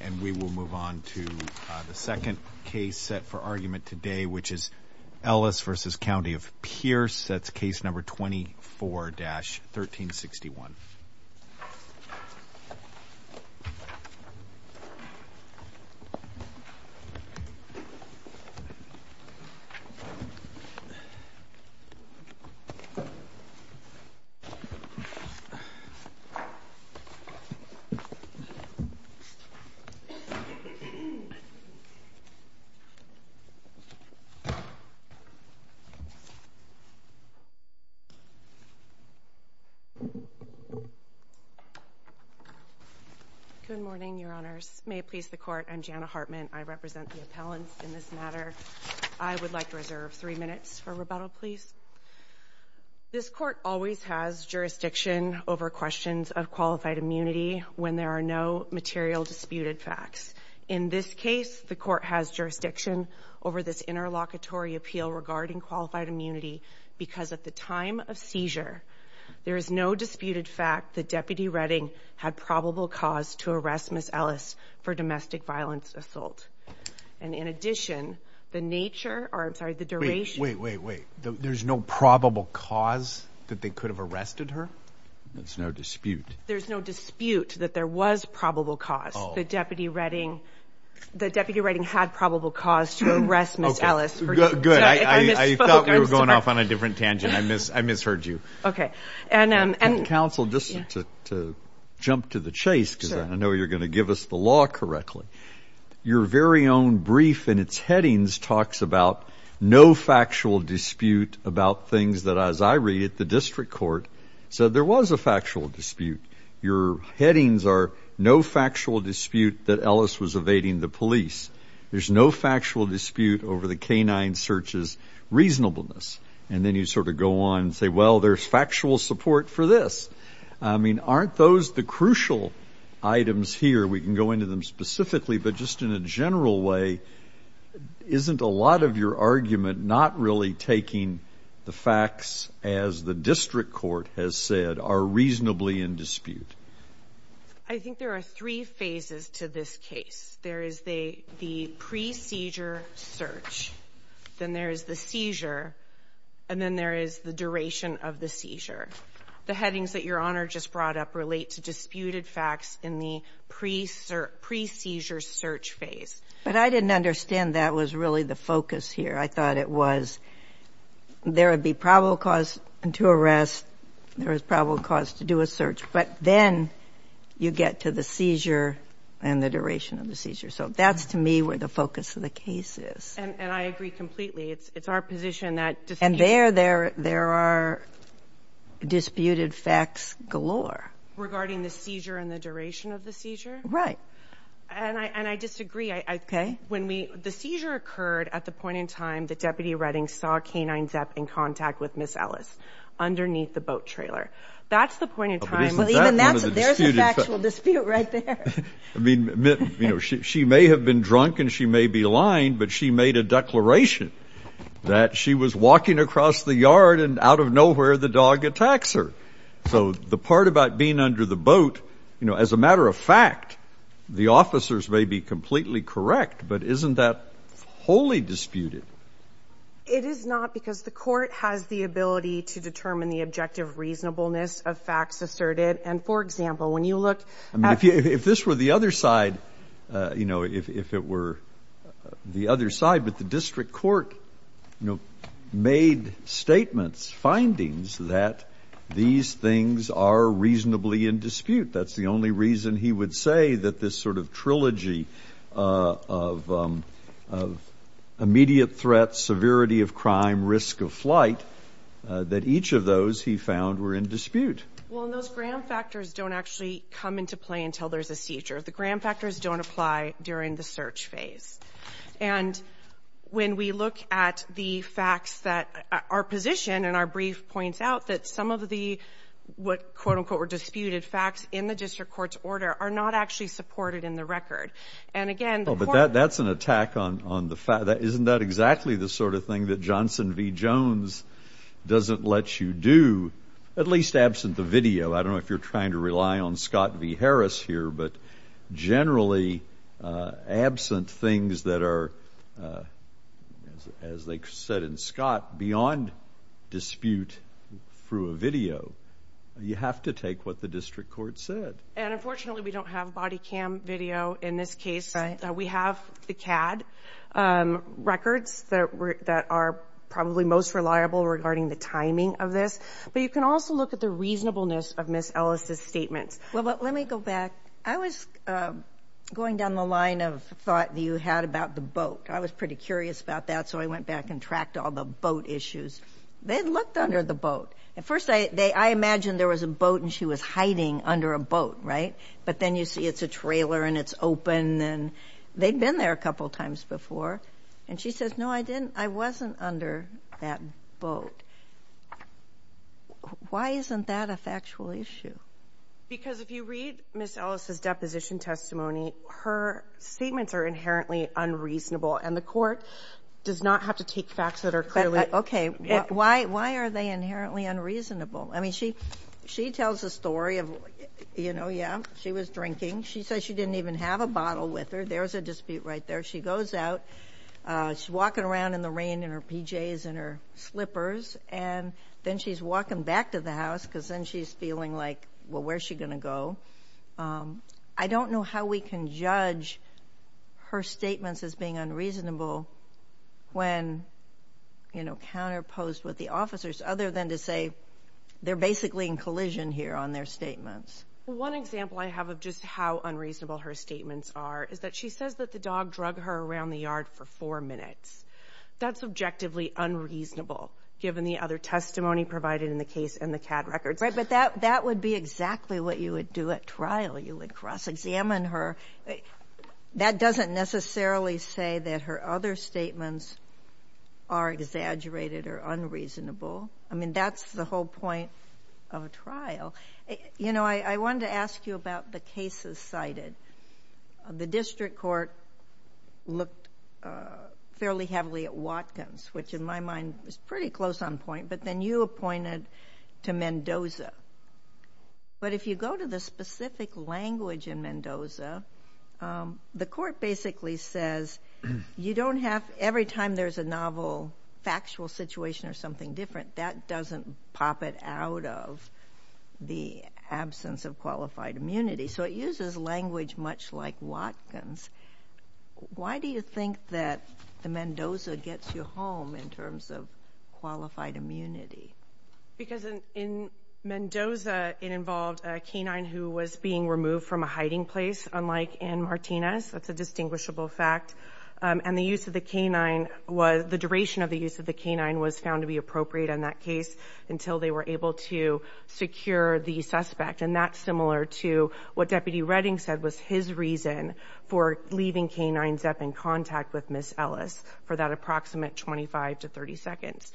and we will move on to the second case set for argument today, which is Ellis versus County of Pierce. That's case number 24 dash 13 61. Good morning, Your Honors. May it please the court, I'm Jana Hartman. I represent the appellants in this matter. I would like to reserve three minutes for rebuttal, please. This court always has jurisdiction over questions of qualified immunity when there are no material disputed facts. In this case, the court has jurisdiction over this interlocutory appeal regarding qualified immunity because at the time of seizure, there is no disputed fact that Deputy Redding had probable cause to arrest Miss Ellis for domestic violence assault. And in addition, the nature or I'm sorry, the duration. Wait, wait, wait. There's no probable cause that they could have arrested her. That's no dispute. There's no dispute that there was probable cause that Deputy Redding, the Deputy Redding had probable cause to arrest Miss Ellis. Good. I thought we were going off on a different tangent. I misheard you. Okay. And counsel, just to jump to the chase, because I know you're going to give us the law correctly. Your very own brief and its headings talks about no factual dispute about things that, as I read it, the district court said there was a factual dispute. Your headings are no factual dispute that Ellis was evading the police. There's no factual dispute over the canine searches reasonableness. And then you sort of go on and say, well, there's factual support for this. I mean, aren't those the crucial items here? We can go into them specifically. But just in a general way, isn't a lot of your argument not really taking the facts as the district court has said are reasonably in dispute? I think there are three phases to this case. There is the pre-seizure search, then there is the seizure, and then there is the duration of the seizure. The headings that Your Honor just brought up relate to disputed facts in the pre-seizure search phase. But I didn't understand that was really the focus here. I thought it was there would be probable cause to arrest, there is probable cause to do a search, but then you get to the seizure and the duration of the seizure. So that's, to me, where the focus of the case is. And I agree completely. It's our position that dispute... There are disputed facts galore. Regarding the seizure and the duration of the seizure? Right. And I disagree. The seizure occurred at the point in time that Deputy Redding saw K-9 Zep in contact with Ms. Ellis underneath the boat trailer. That's the point in time... But isn't that one of the disputed facts? There's a factual dispute right there. She may have been drunk and she may be lying, but she made a declaration that she was walking across the yard and out of nowhere the dog attacks her. So the part about being under the boat, as a matter of fact, the officers may be completely correct, but isn't that wholly disputed? It is not because the court has the ability to determine the objective reasonableness of facts asserted. And for example, when you look at... If this were the other side, if it were the other side, but the district court made statements, findings that these things are reasonably in dispute. That's the only reason he would say that this sort of trilogy of immediate threats, severity of crime, risk of flight, that each of those he found were in dispute. Well, and those gram factors don't actually come into play until there's a seizure. The gram factors don't apply during the search phase. And when we look at the facts that our position and our brief points out that some of the what quote unquote were disputed facts in the district court's order are not actually supported in the record. And again... Oh, but that's an attack on the fact that isn't that exactly the sort of thing that Johnson v. Jones doesn't let you do, at least absent the video. I don't know if you're trying to rely on Scott v. Harris here, but generally absent things that are, as they said in Scott, beyond dispute through a video, you have to take what the district court said. And unfortunately, we don't have body cam video in this case. We have the CAD records that are probably most reliable regarding the timing of this. But you can also look at the reasonableness of Ms. Ellis' statements. Well, let me go back. I was going down the line of thought that you had about the boat. I was pretty curious about that. So I went back and tracked all the boat issues. They looked under the boat. At first, I imagined there was a boat and she was hiding under a boat, right? But then you see it's a trailer and it's open. And they'd been there a couple of times before. And she says, I wasn't under that boat. Why isn't that a factual issue? Because if you read Ms. Ellis' deposition testimony, her statements are inherently unreasonable. And the court does not have to take facts that are clearly... Okay. Why are they inherently unreasonable? I mean, she tells a story of, you know, yeah, she was drinking. She says she didn't even have a bottle with her. There's a dispute right there. She goes out. She's walking around in the rain in her PJs and her slippers. And then she's walking back to the house because then she's feeling like, well, where's she going to go? I don't know how we can judge her statements as being unreasonable when, you know, counterposed with the officers, other than to say they're basically in collision here on their statements. One example I have of just how unreasonable her statements are is that she says that the dog drug her around the yard for four minutes. That's objectively unreasonable, given the other testimony provided in the case and the CAD records. Right. But that would be exactly what you would do at trial. You would cross-examine her. That doesn't necessarily say that her other statements are exaggerated or unreasonable. I mean, that's the whole point of a trial. You know, I wanted to ask you about the cases cited. The district court looked fairly heavily at Watkins, which in my mind was pretty close on point, but then you appointed to Mendoza. But if you go to the specific language in Mendoza, the court basically says you don't have, every time there's a novel, factual situation or something different, that doesn't pop it out of the absence of immunity. So it uses language much like Watkins. Why do you think that the Mendoza gets you home in terms of qualified immunity? Because in Mendoza, it involved a canine who was being removed from a hiding place, unlike in Martinez. That's a distinguishable fact. And the use of the canine was, the duration of the use of the canine was found to be appropriate in that case until they were able to secure the suspect. And that's similar to what Deputy Redding said was his reason for leaving canines up in contact with Ms. Ellis for that approximate 25 to 30 seconds.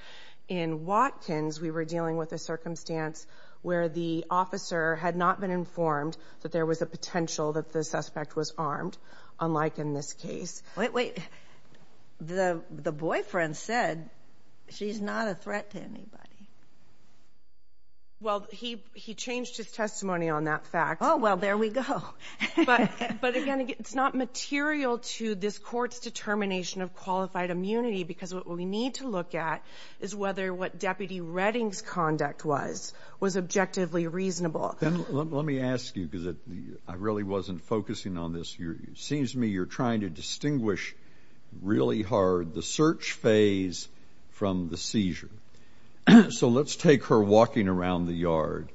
In Watkins, we were dealing with a circumstance where the officer had not been informed that there was a potential that the suspect was armed, unlike in this case. Wait, wait. The boyfriend said she's not a threat to anybody. Well, he changed his testimony on that fact. Oh, well, there we go. But again, it's not material to this court's determination of qualified immunity, because what we need to look at is whether what Deputy Redding's conduct was, was objectively reasonable. Then let me ask you, because I really wasn't focusing on this. It seems to me you're trying to distinguish really hard the search phase from the seizure. So let's take her walking around the yard.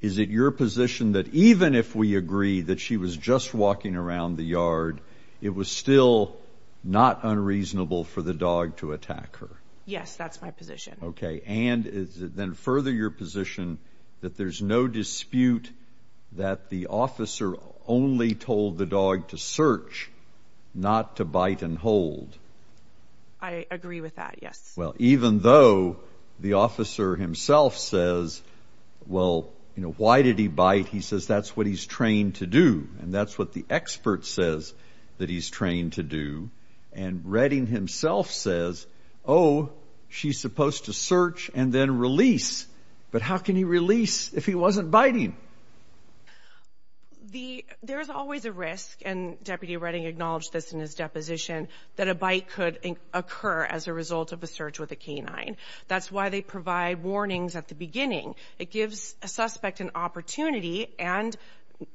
Is it your position that even if we agree that she was just walking around the yard, it was still not unreasonable for the dog to attack her? Yes, that's my position. Okay. And then further your position that there's no dispute that the officer only told the dog to search, not to bite and hold. I agree with that. Yes. Well, even though the officer himself says, well, you know, why did he bite? He says that's what he's trained to do. And that's what the expert says that he's trained to do. And Redding himself says, oh, she's supposed to search and then release. But how can he release if he wasn't biting? There's always a risk, and Deputy Redding acknowledged this in his deposition, that a bite could occur as a result of a search with a canine. That's why they provide warnings at the beginning. It gives a suspect an opportunity and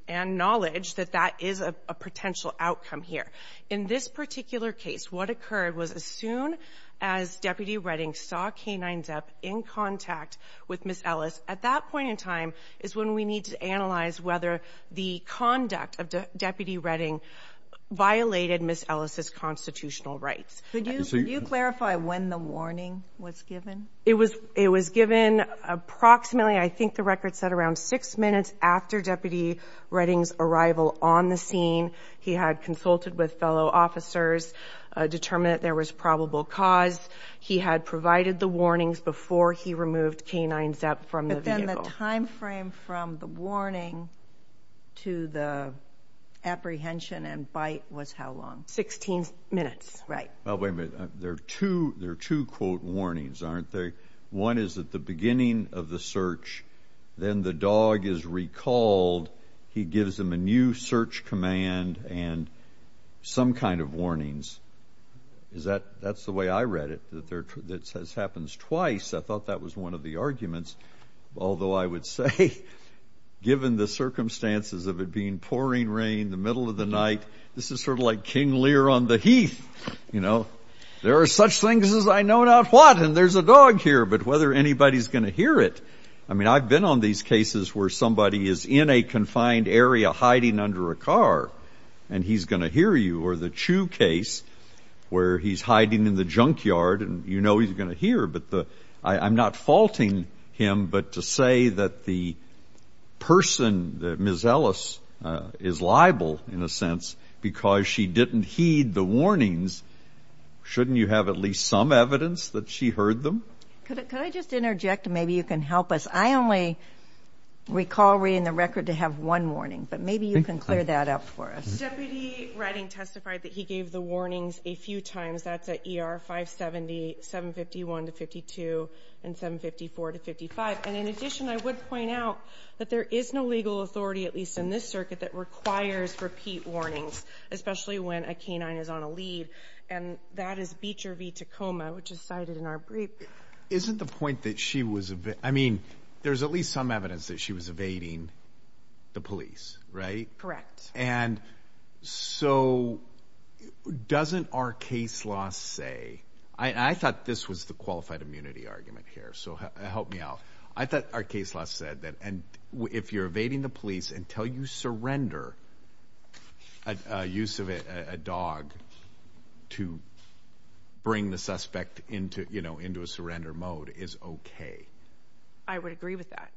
knowledge that that is a potential outcome here. In this particular case, what occurred was as soon as Deputy Redding saw the canine's up in contact with Ms. Ellis, at that point in time is when we need to analyze whether the conduct of Deputy Redding violated Ms. Ellis's constitutional rights. Could you clarify when the warning was given? It was given approximately, I think the record said around six minutes after Deputy Redding's arrival on the scene. He had consulted with fellow officers, determined that there was probable cause. He had provided the warnings before he removed canines up from the vehicle. But then the time frame from the warning to the apprehension and bite was how long? Sixteen minutes. Right. Well, wait a minute. There are two quote warnings, aren't there? One is at the beginning of the search. Then the dog is recalled. He gives them a new search command and some kind of warnings. That's the way I read it, that this happens twice. I thought that was one of the arguments. Although I would say, given the circumstances of it being pouring rain in the middle of the night, this is sort of like King Lear on the heath, you know. There are such things as I know not what, and there's a dog here. But whether anybody's going to hear it, I mean, I've been on these cases where somebody is in a confined area hiding under a car and he's going to hear you, or the Chu case where he's hiding in the junkyard and you know he's going to hear. But I'm not faulting him, but to say that the person, Ms. Ellis, is liable in a sense because she didn't heed the warnings, shouldn't you have at least some evidence that she heard them? Could I just interject? Maybe you can help us. I only recall reading the record to have one warning, but maybe you can clear that up for us. Deputy Redding testified that he gave the warnings a few times. That's at ER 570, 751-52, and 754-55. And in addition, I would point out that there is no legal authority, at least in this circuit, that requires repeat warnings, especially when a canine is on a lead. And that is Beecher v. Tacoma, which is cited in our brief. Isn't the point that she was, I mean, there's at least some evidence that she was evading the police, right? Correct. And so doesn't our case law say, I thought this was the qualified immunity argument here, so help me out. I thought our case law said that if you're evading the police until you surrender a dog to bring the suspect into a surrender mode is okay. I would agree with that.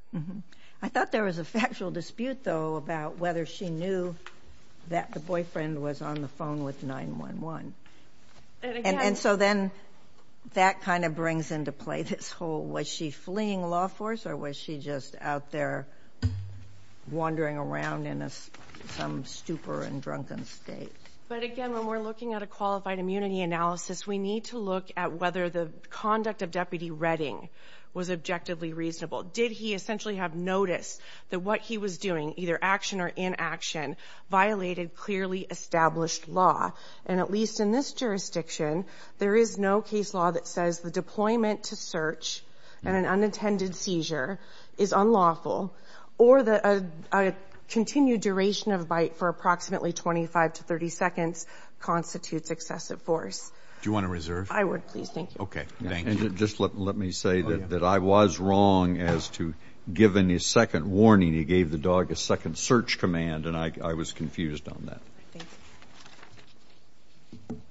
I thought there was a factual dispute, though, about whether she knew that the boyfriend was on the phone with 911. And so then that kind of brings into play this whole, was she fleeing law force or was she just out there wandering around in some stupor and drunken state? But again, when we're looking at a qualified immunity analysis, we need to look at whether the conduct of Deputy Redding was objectively reasonable. Did he essentially have notice that what he was doing, either action or inaction, violated clearly established law? And at least in this jurisdiction, there is no case law that says the deployment to search and an unintended constitutes excessive force. Do you want to reserve? I would, please. Thank you. Okay. Thank you. And just let me say that I was wrong as to, given his second warning, he gave the dog a second search command, and I was confused on that. Good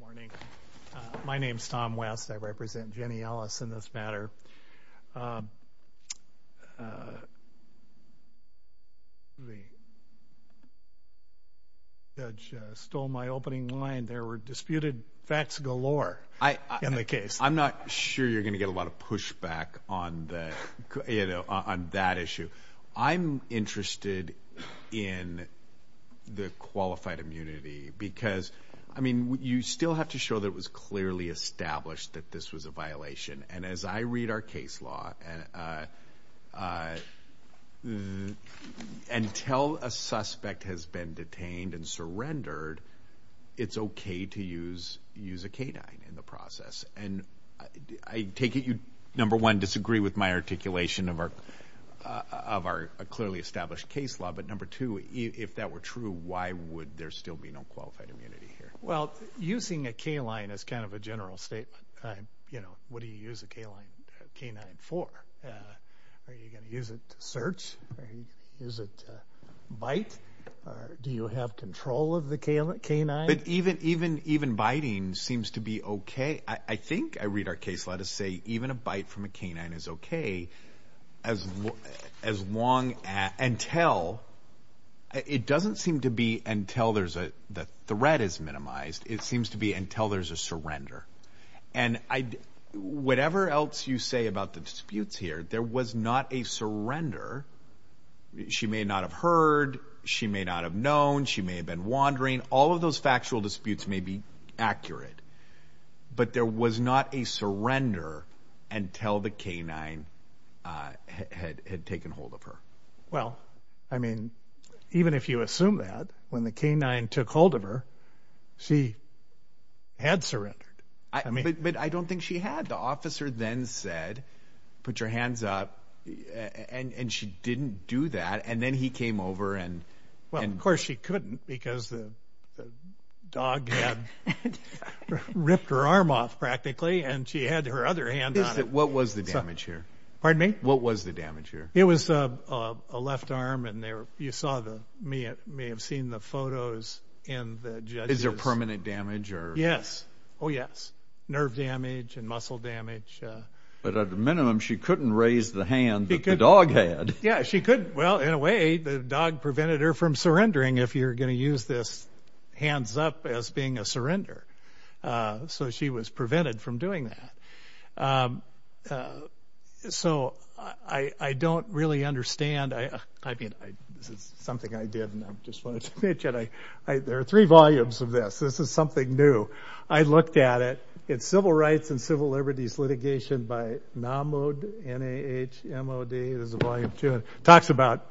morning. My name's Tom West. I represent Jenny Ellis in this matter. The judge stole my opening line. There were disputed facts galore in the case. I'm not sure you're going to get a lot of pushback on that issue. I'm interested in the qualified immunity because, I mean, you still have to show that it was clearly established that this was a violation. And as I read our case law, until a suspect has been detained and surrendered, it's okay to use a canine in the process. And I take it you, number one, disagree with my articulation of our clearly established case law. But number two, if that were true, why would there still be no qualified immunity here? Well, using a canine is kind of a general statement. You know, what do you use a canine for? Are you going to use it to search? Is it bite? Do you have control of the canine? But even biting seems to be okay. I think I read our case law to say even a bite from a canine is okay. It doesn't seem to be until the threat is minimized. It seems to be until there's a surrender. And whatever else you say about the disputes here, there was not a surrender. She may not have heard. She may not have known. She may have been wandering. All of those factual disputes may be accurate. But there was not a surrender until the canine had taken hold of her. Well, I mean, even if you assume that, when the canine took hold of her, she had surrendered. But I don't think she had. The officer then said, put your hands up. And she didn't do that. And then he came over and... Well, of course, she couldn't because the dog had ripped her arm off practically, and she had her other hand on it. What was the damage here? Pardon me? What was the damage here? It was a left arm. And you may have seen the photos in the judges... Is there permanent damage or... Yes. Oh, yes. Nerve damage and muscle damage. But at a minimum, she couldn't raise the hand that the dog had. Yeah, she could. Well, in a way, the dog prevented her from surrendering if you're going to use this hands up as being a surrender. So she was prevented from doing that. So I don't really understand. I mean, this is something I did. And I just wanted to mention, there are three volumes of this. This is something new. I looked at it. It's Civil Rights and Civil Liberties Litigation by Namud, N-A-H-M-O-D. It talks about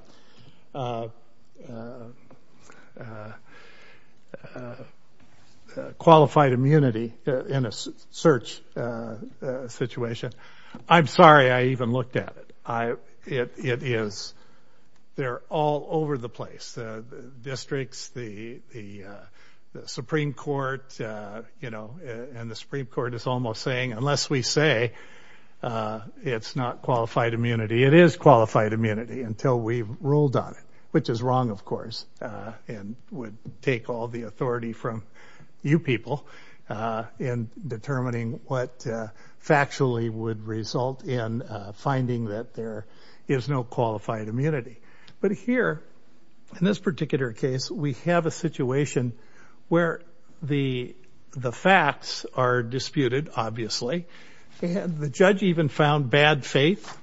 qualified immunity in a search situation. I'm sorry I even looked at it. It is. They're all over the place. The districts, the Supreme Court, and the Supreme Court is almost saying, unless we say it's not qualified immunity, it is qualified immunity until we've ruled on it, which is wrong, of course, and would take all the authority from you people in determining what factually would result in finding that there is no qualified immunity. But here, in this particular case, we have a situation where the facts are disputed, obviously, and the judge even found bad faith,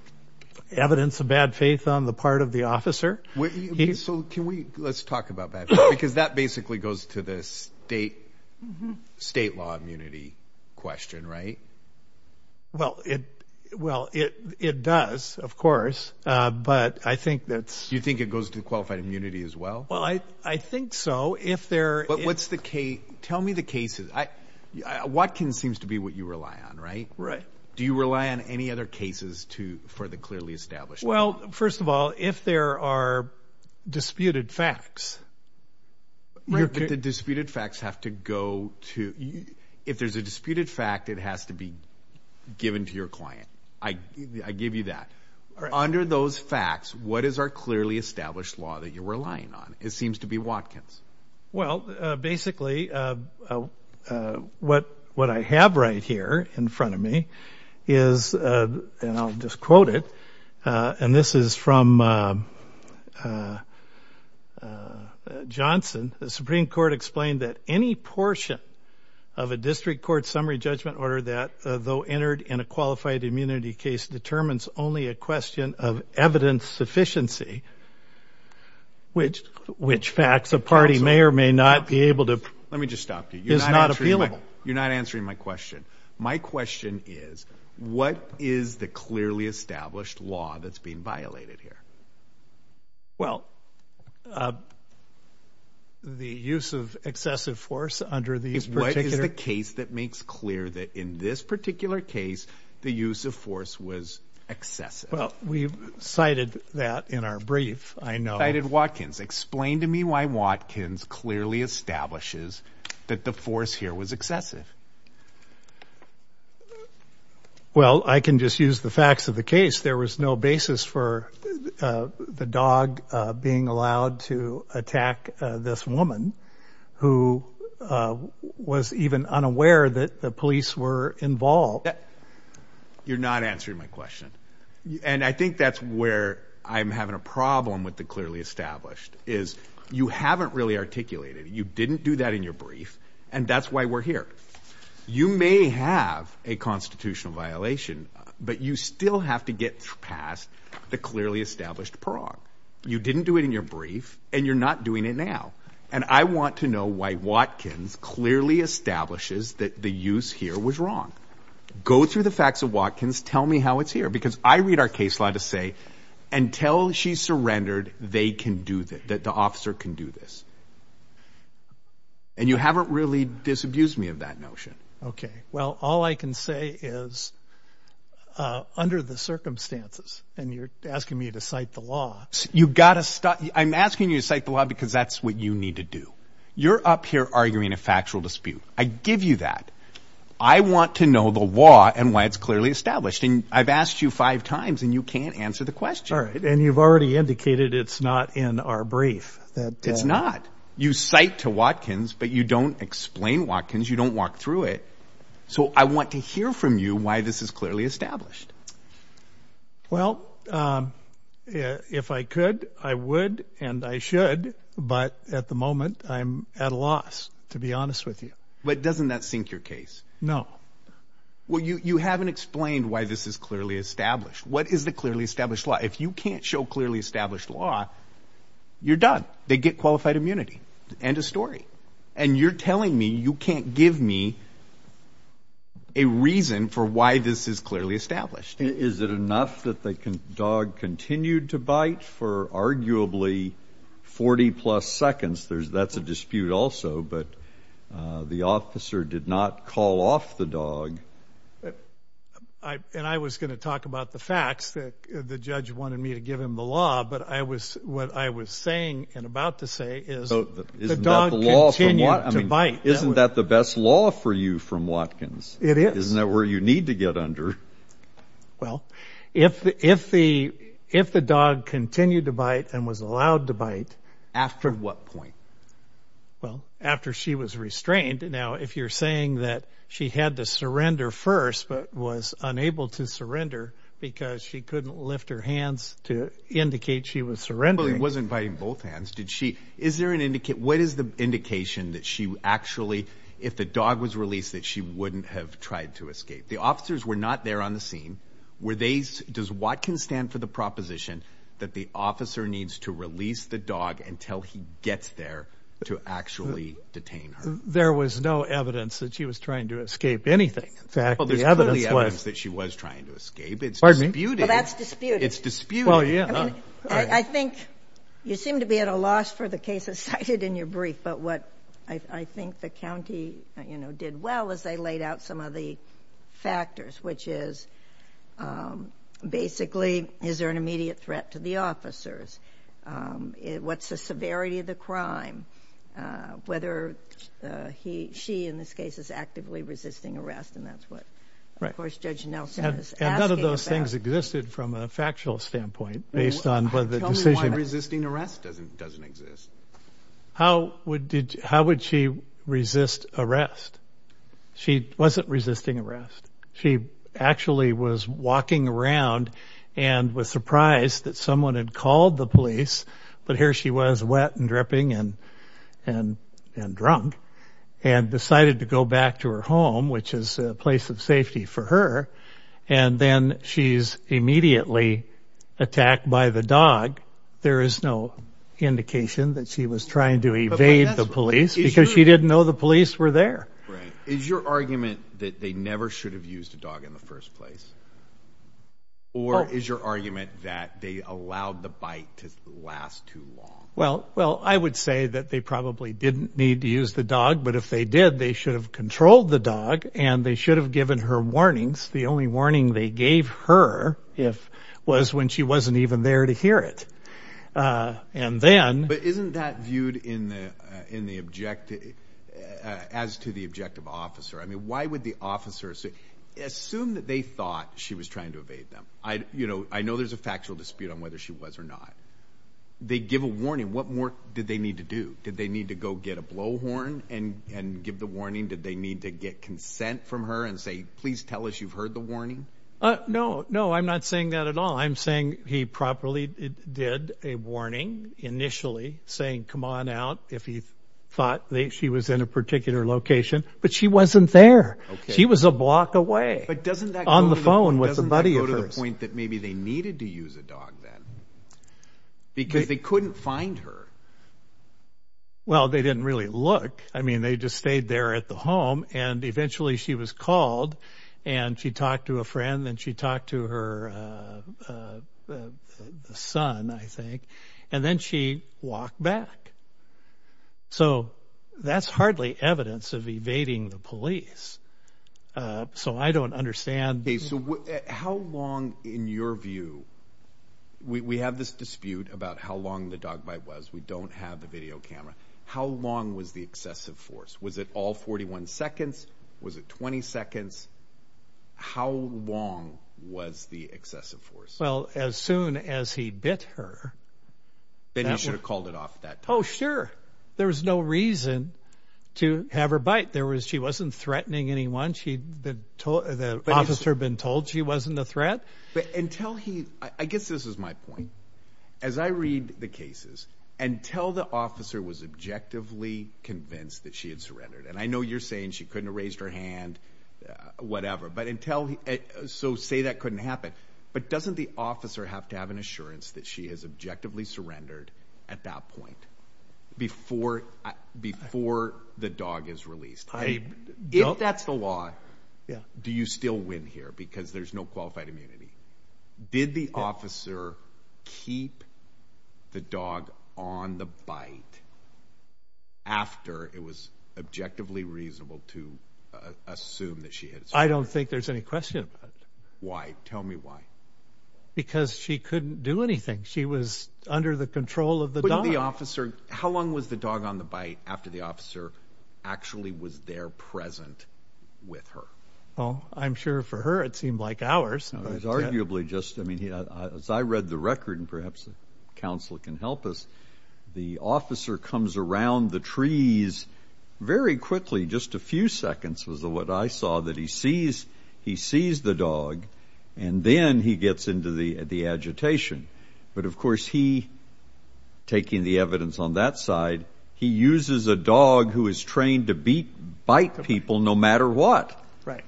evidence of bad faith on the part of the officer. Let's talk about that, because that basically goes to the state law immunity question, right? Well, it does, of course, but I think that's... You think it goes to qualified immunity as well? Well, I think so. Tell me the cases. Watkins seems to be what you rely on, right? Right. Do you rely on any other cases for the clearly established law? First of all, if there are disputed facts... The disputed facts have to go to... If there's a disputed fact, it has to be given to your client. I give you that. Under those facts, what is our clearly established law that you're relying on? It seems to be Watkins. Well, basically, what I have right here in front of me is, and I'll just quote it, and this is from Johnson. The Supreme Court explained that any portion of a district court summary judgment order that, though entered in a qualified immunity case, determines only a evidence sufficiency, which facts a party may or may not be able to... Let me just stop you. ...is not appealable. You're not answering my question. My question is, what is the clearly established law that's being violated here? Well, the use of excessive force under these particular... What is the case that makes clear that in this particular case, the use of force was excessive? We've cited that in our brief. I know... Cited Watkins. Explain to me why Watkins clearly establishes that the force here was excessive. Well, I can just use the facts of the case. There was no basis for the dog being allowed to attack this woman, who was even unaware that the police were involved. You're not answering my question. And I think that's where I'm having a problem with the clearly established, is you haven't really articulated it. You didn't do that in your brief, and that's why we're here. You may have a constitutional violation, but you still have to get past the clearly established prong. You didn't do it in your brief, and you're not doing it now. And I want to know why Watkins clearly establishes that the use here was wrong. Go through the facts of Watkins. Tell me how it's here, because I read our case law to say, until she surrendered, they can do this, that the officer can do this. And you haven't really disabused me of that notion. Okay. Well, all I can say is, under the circumstances, and you're asking me to cite the law. I'm asking you to cite the law because that's what you need to do. You're up here arguing a factual dispute. I give you that. I want to know the law and why it's clearly established. And I've asked you five times, and you can't answer the question. All right. And you've already indicated it's not in our brief. It's not. You cite to Watkins, but you don't explain Watkins. You don't walk through it. So I want to hear from you why this is clearly established. Well, if I could, I would, and I should. But at the moment, I'm at a loss, to be honest with you. But doesn't that sink your case? No. Well, you haven't explained why this is clearly established. What is the clearly established law? If you can't show clearly established law, you're done. They get qualified immunity. End of story. And you're telling me you can't give me a reason for why this is clearly established? Is it enough that the dog continued to bite for arguably 40 plus seconds? That's a dispute also. But the officer did not call off the dog. And I was going to talk about the facts that the judge wanted me to give him the law. But what I was saying and about to say is the dog continued to bite. Isn't that the best law for you from Watkins? It is. Isn't that where you need to get under? Well, if the dog continued to bite and was allowed to bite. After what point? Well, after she was restrained. Now, if you're saying that she had to surrender first, but was unable to surrender because she couldn't lift her hands to indicate she was surrendering. Wasn't biting both hands. Did she? Is there an indicate? What is the indication that she actually, if the dog was released, that she wouldn't have tried to escape? The officers were not there on the scene. Does Watkins stand for the proposition that the officer needs to release the dog until he gets there to actually detain her? There was no evidence that she was trying to escape anything. Well, there's evidence that she was trying to escape. It's disputed. Well, that's disputed. It's disputed. I think you seem to be at a loss for the cases cited in your brief. But what I think the county did well is they laid out some of the factors, which is, basically, is there an immediate threat to the officers? What's the severity of the crime? Whether she, in this case, is actively resisting arrest. And that's what, of course, Judge Nelson is asking about. And none of those things existed from a factual standpoint, based on whether the decision... Tell me why resisting arrest doesn't exist. How would she resist arrest? She wasn't resisting arrest. She actually was walking around and was surprised that someone had called the police. But here she was, wet and dripping and drunk, and decided to go back to her home, which is a place of safety for her. And then she's immediately attacked by the dog. There is no indication that she was trying to evade the police because she didn't know the police were there. Right. Is your argument that they never should have used a dog in the first place? Or is your argument that they allowed the bite to last too long? Well, I would say that they probably didn't need to use the dog. But if they did, they should have controlled the dog and they should have given her warnings. The only warning they gave her was when she wasn't even there to hear it. And then... But isn't that viewed as to the objective officer? I mean, why would the officer... Assume that they thought she was trying to evade them. I know there's a factual dispute on whether she was or not. They give a warning. What more did they need to do? Did they need to go get a blow warning? Did they need to get consent from her and say, please tell us you've heard the warning? No, no, I'm not saying that at all. I'm saying he properly did a warning initially saying, come on out if he thought she was in a particular location, but she wasn't there. She was a block away. But doesn't that go to the point that maybe they needed to use a dog then? Because they couldn't find her. Well, they didn't really look. I mean, they just stayed there at the home and eventually she was called and she talked to a friend and she talked to her son, I think, and then she walked back. So that's hardly evidence of evading the police. So I don't understand. How long, in your view, we have this dispute about how long the dog bite was. We don't have the video camera. How long was the excessive force? Was it all 41 seconds? Was it 20 seconds? How long was the excessive force? Well, as soon as he bit her. Then he should have called it off that time. Oh, sure. There was no reason to have her bite. She wasn't threatening anyone. The officer had been told she wasn't a threat. I guess this is my point. As I read the cases, until the officer was objectively convinced that she had surrendered, and I know you're saying she couldn't have raised her hand, whatever. So say that couldn't happen. But doesn't the officer have to have an assurance that she has objectively surrendered at that point before the dog is released? If that's the law, do you still win here because there's no qualified immunity? Did the officer keep the dog on the bite after it was objectively reasonable to assume that she had surrendered? I don't think there's any question about it. Why? Tell me why. Because she couldn't do anything. She was under the control of the dog. How long was the dog on the bite after the officer actually was there present with her? Well, I'm sure for her, it seemed like hours. I read the record, and perhaps counsel can help us. The officer comes around the trees very quickly, just a few seconds was what I saw, that he sees the dog, and then he gets into the agitation. But of course, he, taking the evidence on that side, he uses a dog who is trained to bite people no matter what. Right.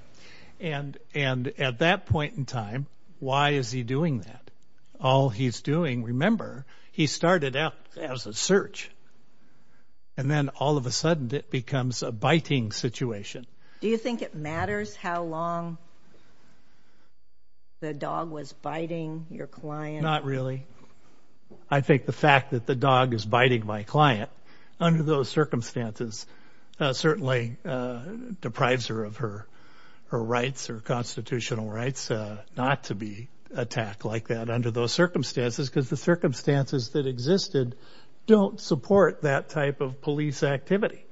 And at that point in time, why is he doing that? All he's doing, remember, he started out as a search, and then all of a sudden it becomes a biting situation. Do you think it matters how long the dog was biting your client? Not really. I think the fact that the dog is biting my client under those circumstances certainly deprives her of her rights, her constitutional rights, not to be attacked like that under those circumstances, because the circumstances that existed don't support that type of police activity.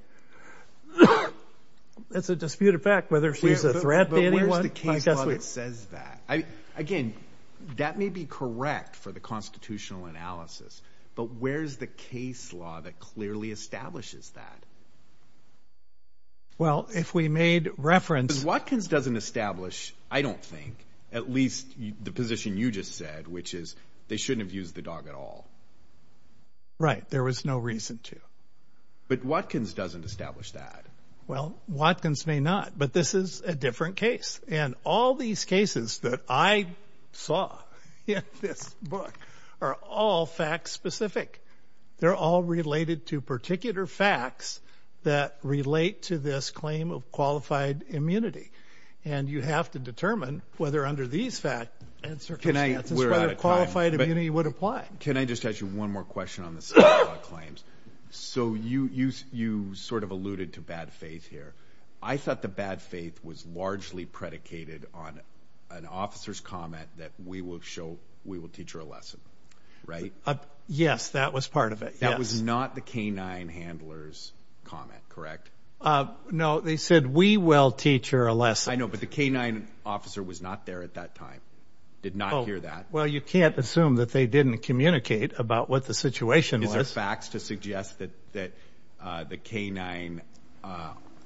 It's a disputed fact whether she's a threat to anyone. But where's the case law that says that? Again, that may be correct for the constitutional analysis, but where's the case law that clearly establishes that? Well, if we made reference... Because Watkins doesn't establish, I don't think, at least the position you just said, which is they shouldn't have used the dog at all. Right. There was no reason to. But Watkins doesn't establish that. Well, Watkins may not, but this is a different case. And all these cases that I saw in this book are all fact-specific. They're all related to particular facts that relate to this claim of qualified immunity. And you have to determine whether under these circumstances, whether qualified immunity would apply. Can I just ask you one more question on this claims? So you sort of alluded to bad faith here. I thought the bad faith was largely predicated on an officer's comment that we will teach her a lesson, right? Yes, that was part of it. Yes. That was not the canine handler's comment, correct? No, they said, we will teach her a lesson. I know, but the canine officer was not there at that time, did not hear that. Well, you can't assume that they didn't communicate about what the situation was. Is there facts to suggest that the canine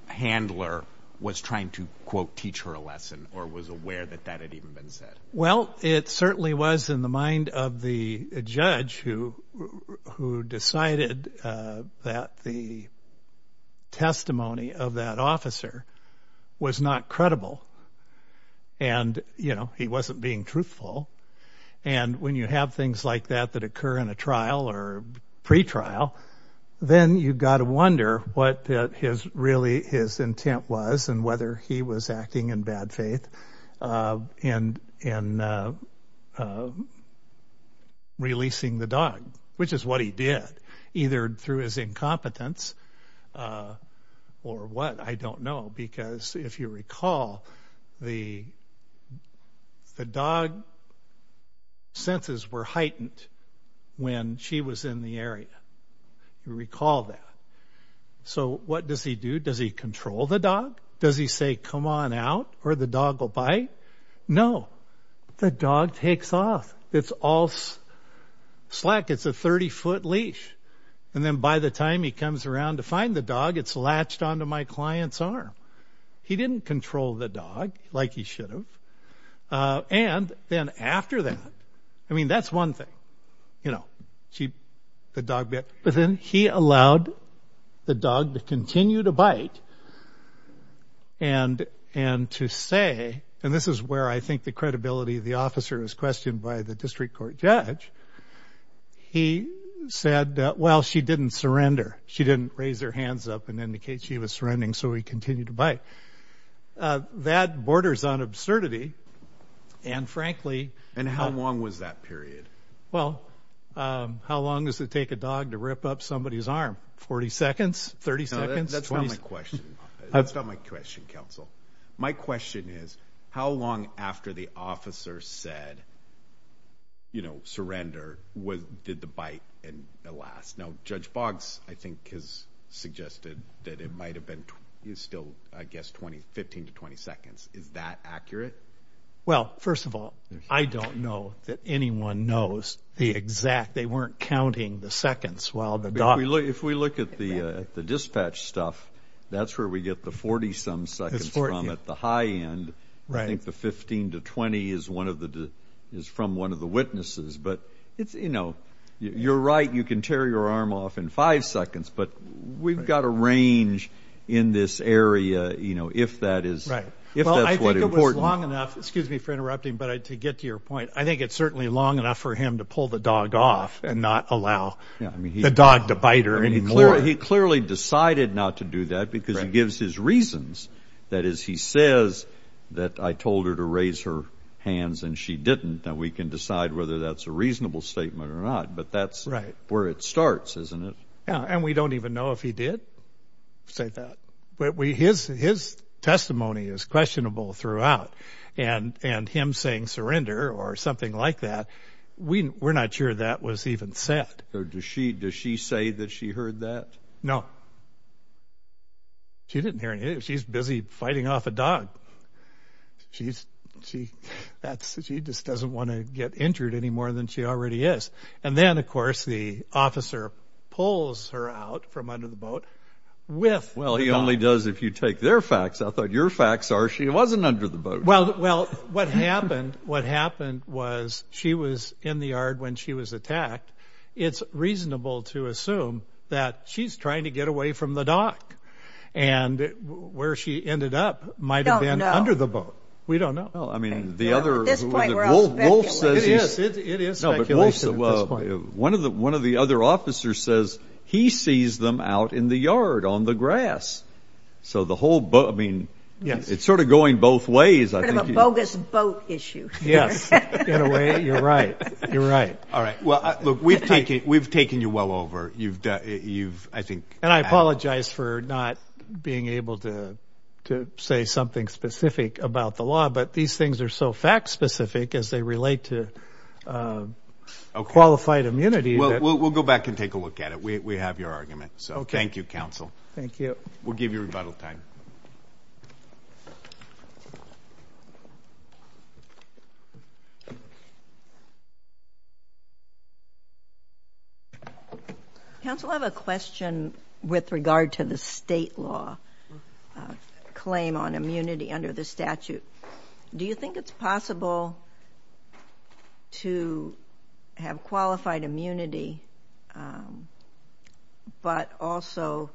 handler was trying to, quote, teach her a lesson, or was aware that that had even been said? Well, it certainly was in the mind of the judge who decided that the testimony of that officer was not credible. And, you know, he wasn't being truthful. And when you have things like that that occur in a trial or pre-trial, then you've got to wonder what really his intent was and whether he was acting in bad faith in releasing the dog, which is what he did, either through his incompetence or what, I don't know. Because if you recall, the dog senses were heightened when she was in the area. You recall that. So what does he do? Does he control the dog? Does he say, come on out, or the dog will bite? No, the dog takes off. It's all slack. It's a 30-foot leash. And then by the time he comes around to find the dog, it's latched onto my client's arm. He didn't control the dog like he should have. And then after that, I mean, that's one thing, you know, the dog bit. But then he allowed the dog to continue to bite and to say, and this is where I think the credibility of the officer was questioned by the district court judge, he said, well, she didn't surrender. She didn't raise her hands up and indicate she was surrendering. So he continued to bite. That borders on absurdity. And frankly... And how long was that period? Well, how long does it take a dog to rip up somebody's arm? 40 seconds? 30 seconds? That's not my question. That's not my question, counsel. My question is, how long after the officer said, you know, surrender, did the bite last? Now, Judge Boggs, I think, has suggested that it might have been still, I guess, 15 to 20 seconds. Is that accurate? Well, first of all, I don't know that anyone knows the exact, they weren't counting the seconds while the dog... If we look at the dispatch stuff, that's where we get the 40 some seconds from at the high end. I think the 15 to 20 is from one of the witnesses. But it's, you know, you're right, you can tear your arm off in five seconds, but we've got a range in this area, you know, if that's what's important. Well, I think it was long enough, excuse me for interrupting, but to get to your point, I think it's certainly long enough for him to pull the dog off and not allow the dog to bite her anymore. He clearly decided not to do that because he gives his reasons. That is, he says that I told her to raise her hands and she didn't. Now we can decide whether that's a reasonable statement or not, but that's where it starts, isn't it? Yeah. And we don't even know if he did say that, but his testimony is questionable throughout and him saying surrender or something like that, we're not sure that was even said. Does she say that she heard that? No. She didn't hear anything. She's busy fighting off a dog. She just doesn't want to get injured anymore than she already is. And then, of course, the officer pulls her out from under the boat with... Well, he only does if you take their facts. I thought your facts are she wasn't under the boat. Well, what happened was she was in the yard when she was attacked. It's reasonable to assume that she's trying to get away from the dock and where she ended up under the boat. We don't know. It is speculation. One of the other officers says he sees them out in the yard on the grass. So the whole boat, I mean, it's sort of going both ways. A bogus boat issue. Yes. In a way, you're right. You're right. All right. Well, look, we've taken you well over. And I apologize for not being able to to say something specific about the law, but these things are so fact specific as they relate to qualified immunity. We'll go back and take a look at it. We have your argument. So thank you, counsel. Thank you. We'll give you rebuttal time. Counsel, I have a question with regard to the state law claim on immunity under the statute. Do you think it's possible to have qualified immunity but also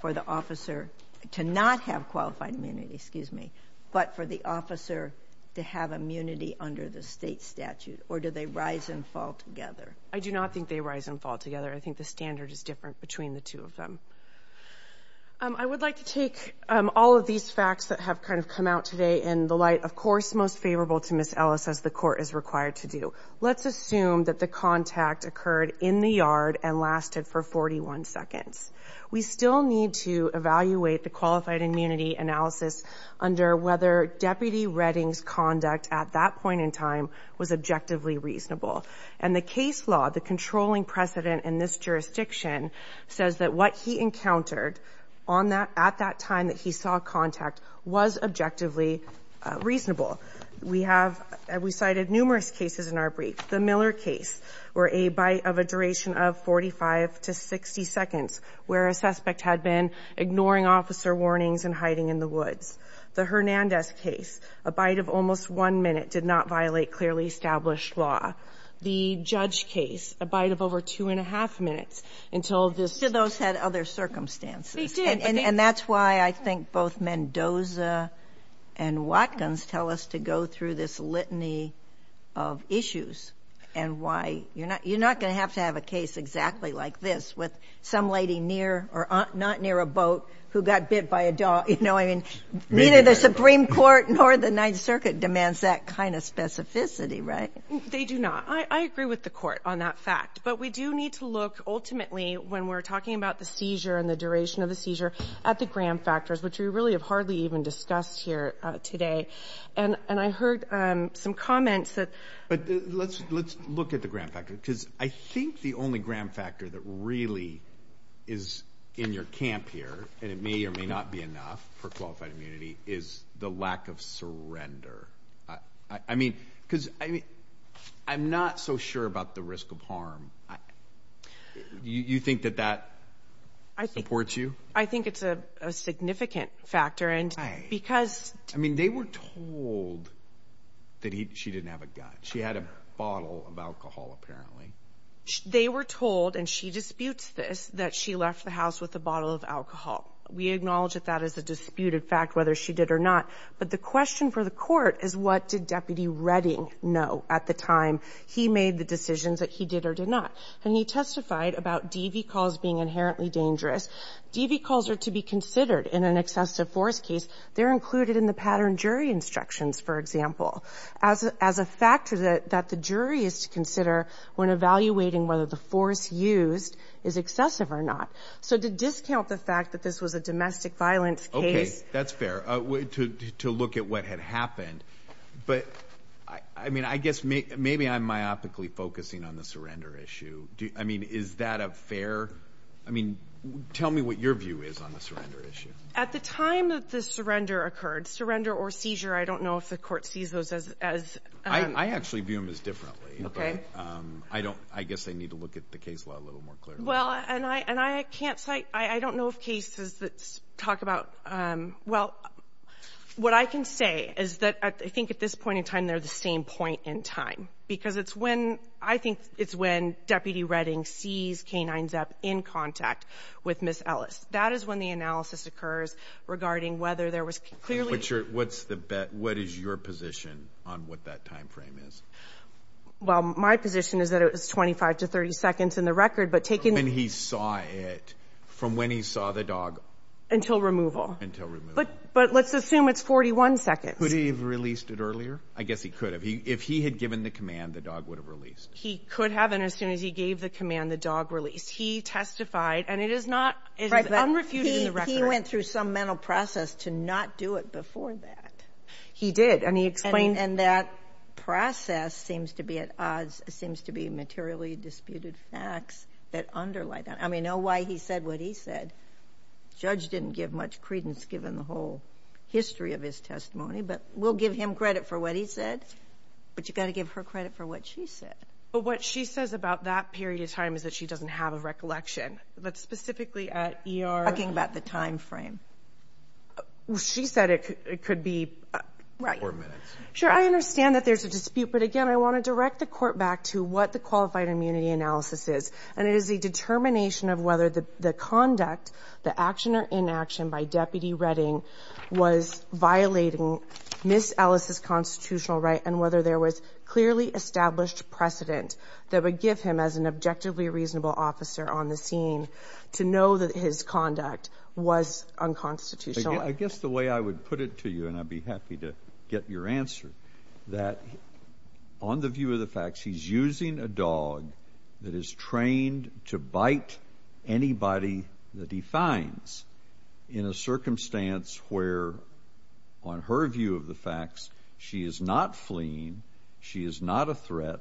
for the officer to not have qualified immunity, excuse me, but for the officer to have immunity under the state statute or do they rise and fall together? I do not think they rise and fall together. I think the standard is different between the two of them. I would like to take all of these facts that have kind of come out today in the light, of course, most favorable to Miss Ellis as the court is required to do. Let's assume that the contact occurred in the yard and lasted for 41 seconds. We still need to evaluate the qualified immunity analysis under whether Deputy Redding's conduct at that point in time was objectively reasonable. And the case law, the controlling precedent in this jurisdiction says that what he encountered on at that time that he saw contact was objectively reasonable. We have, we cited numerous cases in our brief. The Miller case were a bite of a duration of 45 to 60 seconds where a suspect had been ignoring officer warnings and hiding in the woods. The Hernandez case, a bite of almost one minute did not violate clearly established law. The Judge case, a bite of over two and a half minutes until this... So those had other circumstances. They did. And that's why I think both Mendoza and Watkins tell us to go through this litany of issues and why you're not, you're not going to have to have a case exactly like this with some lady near or not near a boat who got bit by a dog. You know, I mean, neither the Supreme Court nor the Ninth Circuit demands that kind of specificity, right? They do not. I agree with the court on that fact, but we do need to look ultimately when we're talking about the seizure and the duration of the seizure at the gram factors, which we really have hardly even discussed here today. And I heard some comments that... But let's look at the gram factor because I think the only gram factor that really is in your camp here, and it may or may not be enough for qualified immunity, is the lack of surrender. I mean, because I'm not so sure about the risk of harm. You think that that supports you? I think it's a significant factor and because... I mean, they were told that she didn't have a gun. She had a bottle of alcohol, apparently. They were told, and she disputes this, that she left the house with a bottle of alcohol. We acknowledge that that is a disputed fact, whether she did or not. But the question for the court is what did Deputy Redding know at the time he made the decisions that he did or did not? And he testified about DV calls being inherently dangerous. DV calls are to be considered in an excessive force case. They're included in the pattern jury instructions, for example, as a factor that the jury is to consider when evaluating whether the force used is excessive or not. So to discount the fact that this was a domestic violence case... Okay, that's fair. To look at what had happened. But I mean, I guess maybe I'm myopically focusing on the surrender issue. I mean, is that a fair... I mean, tell me what your view is on the surrender issue. At the time that the surrender occurred, surrender or seizure, I don't know if the court sees those as... I actually view them as differently. Okay. I don't... I guess I need to look at the case law a little more clearly. Well, and I can't cite... I don't know of cases that talk about... Well, what I can say is that I think at this point in time, they're the same point in time. Because it's when... I think it's when Deputy Redding sees K-9 Zep in contact with Ms. Ellis. That is when the analysis occurs regarding whether there was clearly... What's your... What's the bet? What is your position on what that time frame is? Well, my position is that it was 25 to 30 seconds in the record, but taking... When he saw it, from when he saw the dog... Until removal. Until removal. But let's assume it's 41 seconds. Would he have released it earlier? I guess he could have. If he had given the command, the dog would have released. He could have, and as soon as he gave the command, the dog released. He testified, and it is not... It is unrefuted in the record. He went through some mental process to not do it before that. He did, and he explained... And that process seems to be at odds... Seems to be materially disputed facts that underlie that. I mean, I know why he said what he said. Judge didn't give much credence given the whole history of his testimony, but we'll give him credit for what he said, but you've got to give her credit for what she said. But what she says about that period of time is that she doesn't have a recollection, but specifically at ER... Talking about the time frame. She said it could be... Right. Four minutes. Sure. I understand that there's a dispute, but again, I want to direct the court back to what the qualified immunity analysis is, and it is the determination of whether the conduct, the action or inaction by Deputy Redding was violating Ms. Ellis's constitutional right and whether there was clearly established precedent that would give him, as an objectively reasonable officer on the scene, to know that his conduct was unconstitutional. I guess the way I would put it to you, and I'd be happy to get your answer, that on the view of the facts, he's using a dog that is trained to bite anybody that he finds in a circumstance where, on her view of the facts, she is not fleeing, she is not a threat,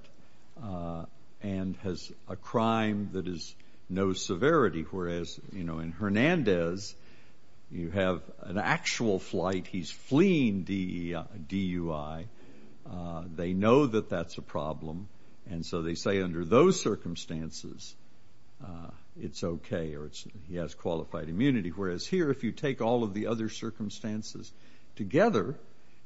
and has a crime that is no severity. Whereas in Hernandez, you have an actual flight, he's fleeing DUI. They know that that's a problem, and so they say under those circumstances, it's okay, or he has qualified immunity. Whereas here, if you take all of the circumstances together,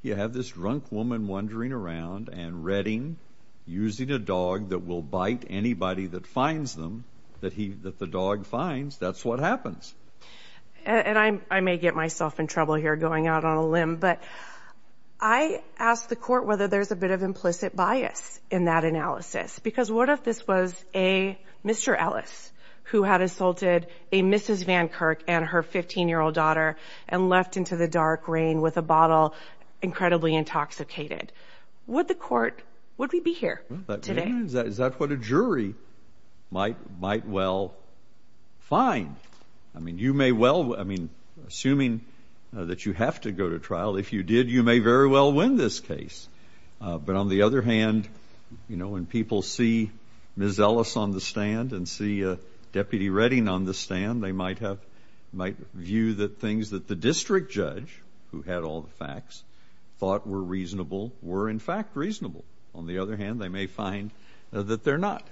you have this drunk woman wandering around and Redding using a dog that will bite anybody that finds them, that the dog finds, that's what happens. And I may get myself in trouble here going out on a limb, but I ask the court whether there's a bit of implicit bias in that analysis, because what if this was a Mr. Ellis who had assaulted a Mrs. Van Kirk and her 15-year-old daughter and left into the dark rain with a bottle, incredibly intoxicated. Would the court, would we be here today? Is that what a jury might well find? I mean, you may well, I mean, assuming that you have to go to trial, if you did, you may very well win this case. But on the other hand, you know, when people see Ms. Ellis on the stand and see Deputy Redding on the stand, they might have, might view that things that the district judge, who had all the facts, thought were reasonable, were in fact reasonable. On the other hand, they may find that they're not.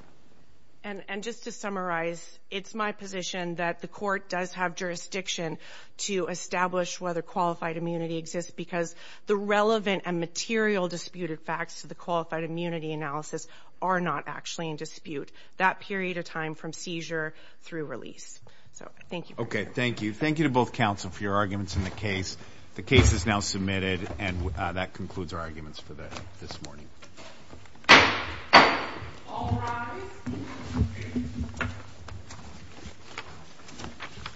And just to summarize, it's my position that the court does have jurisdiction to establish whether qualified immunity exists, because the relevant and material disputed facts to the qualified immunity analysis are not actually in dispute that period of time from seizure through release. So, thank you. Okay, thank you. Thank you to both counsel for your arguments in the case. The case is now submitted and that concludes our arguments for this morning.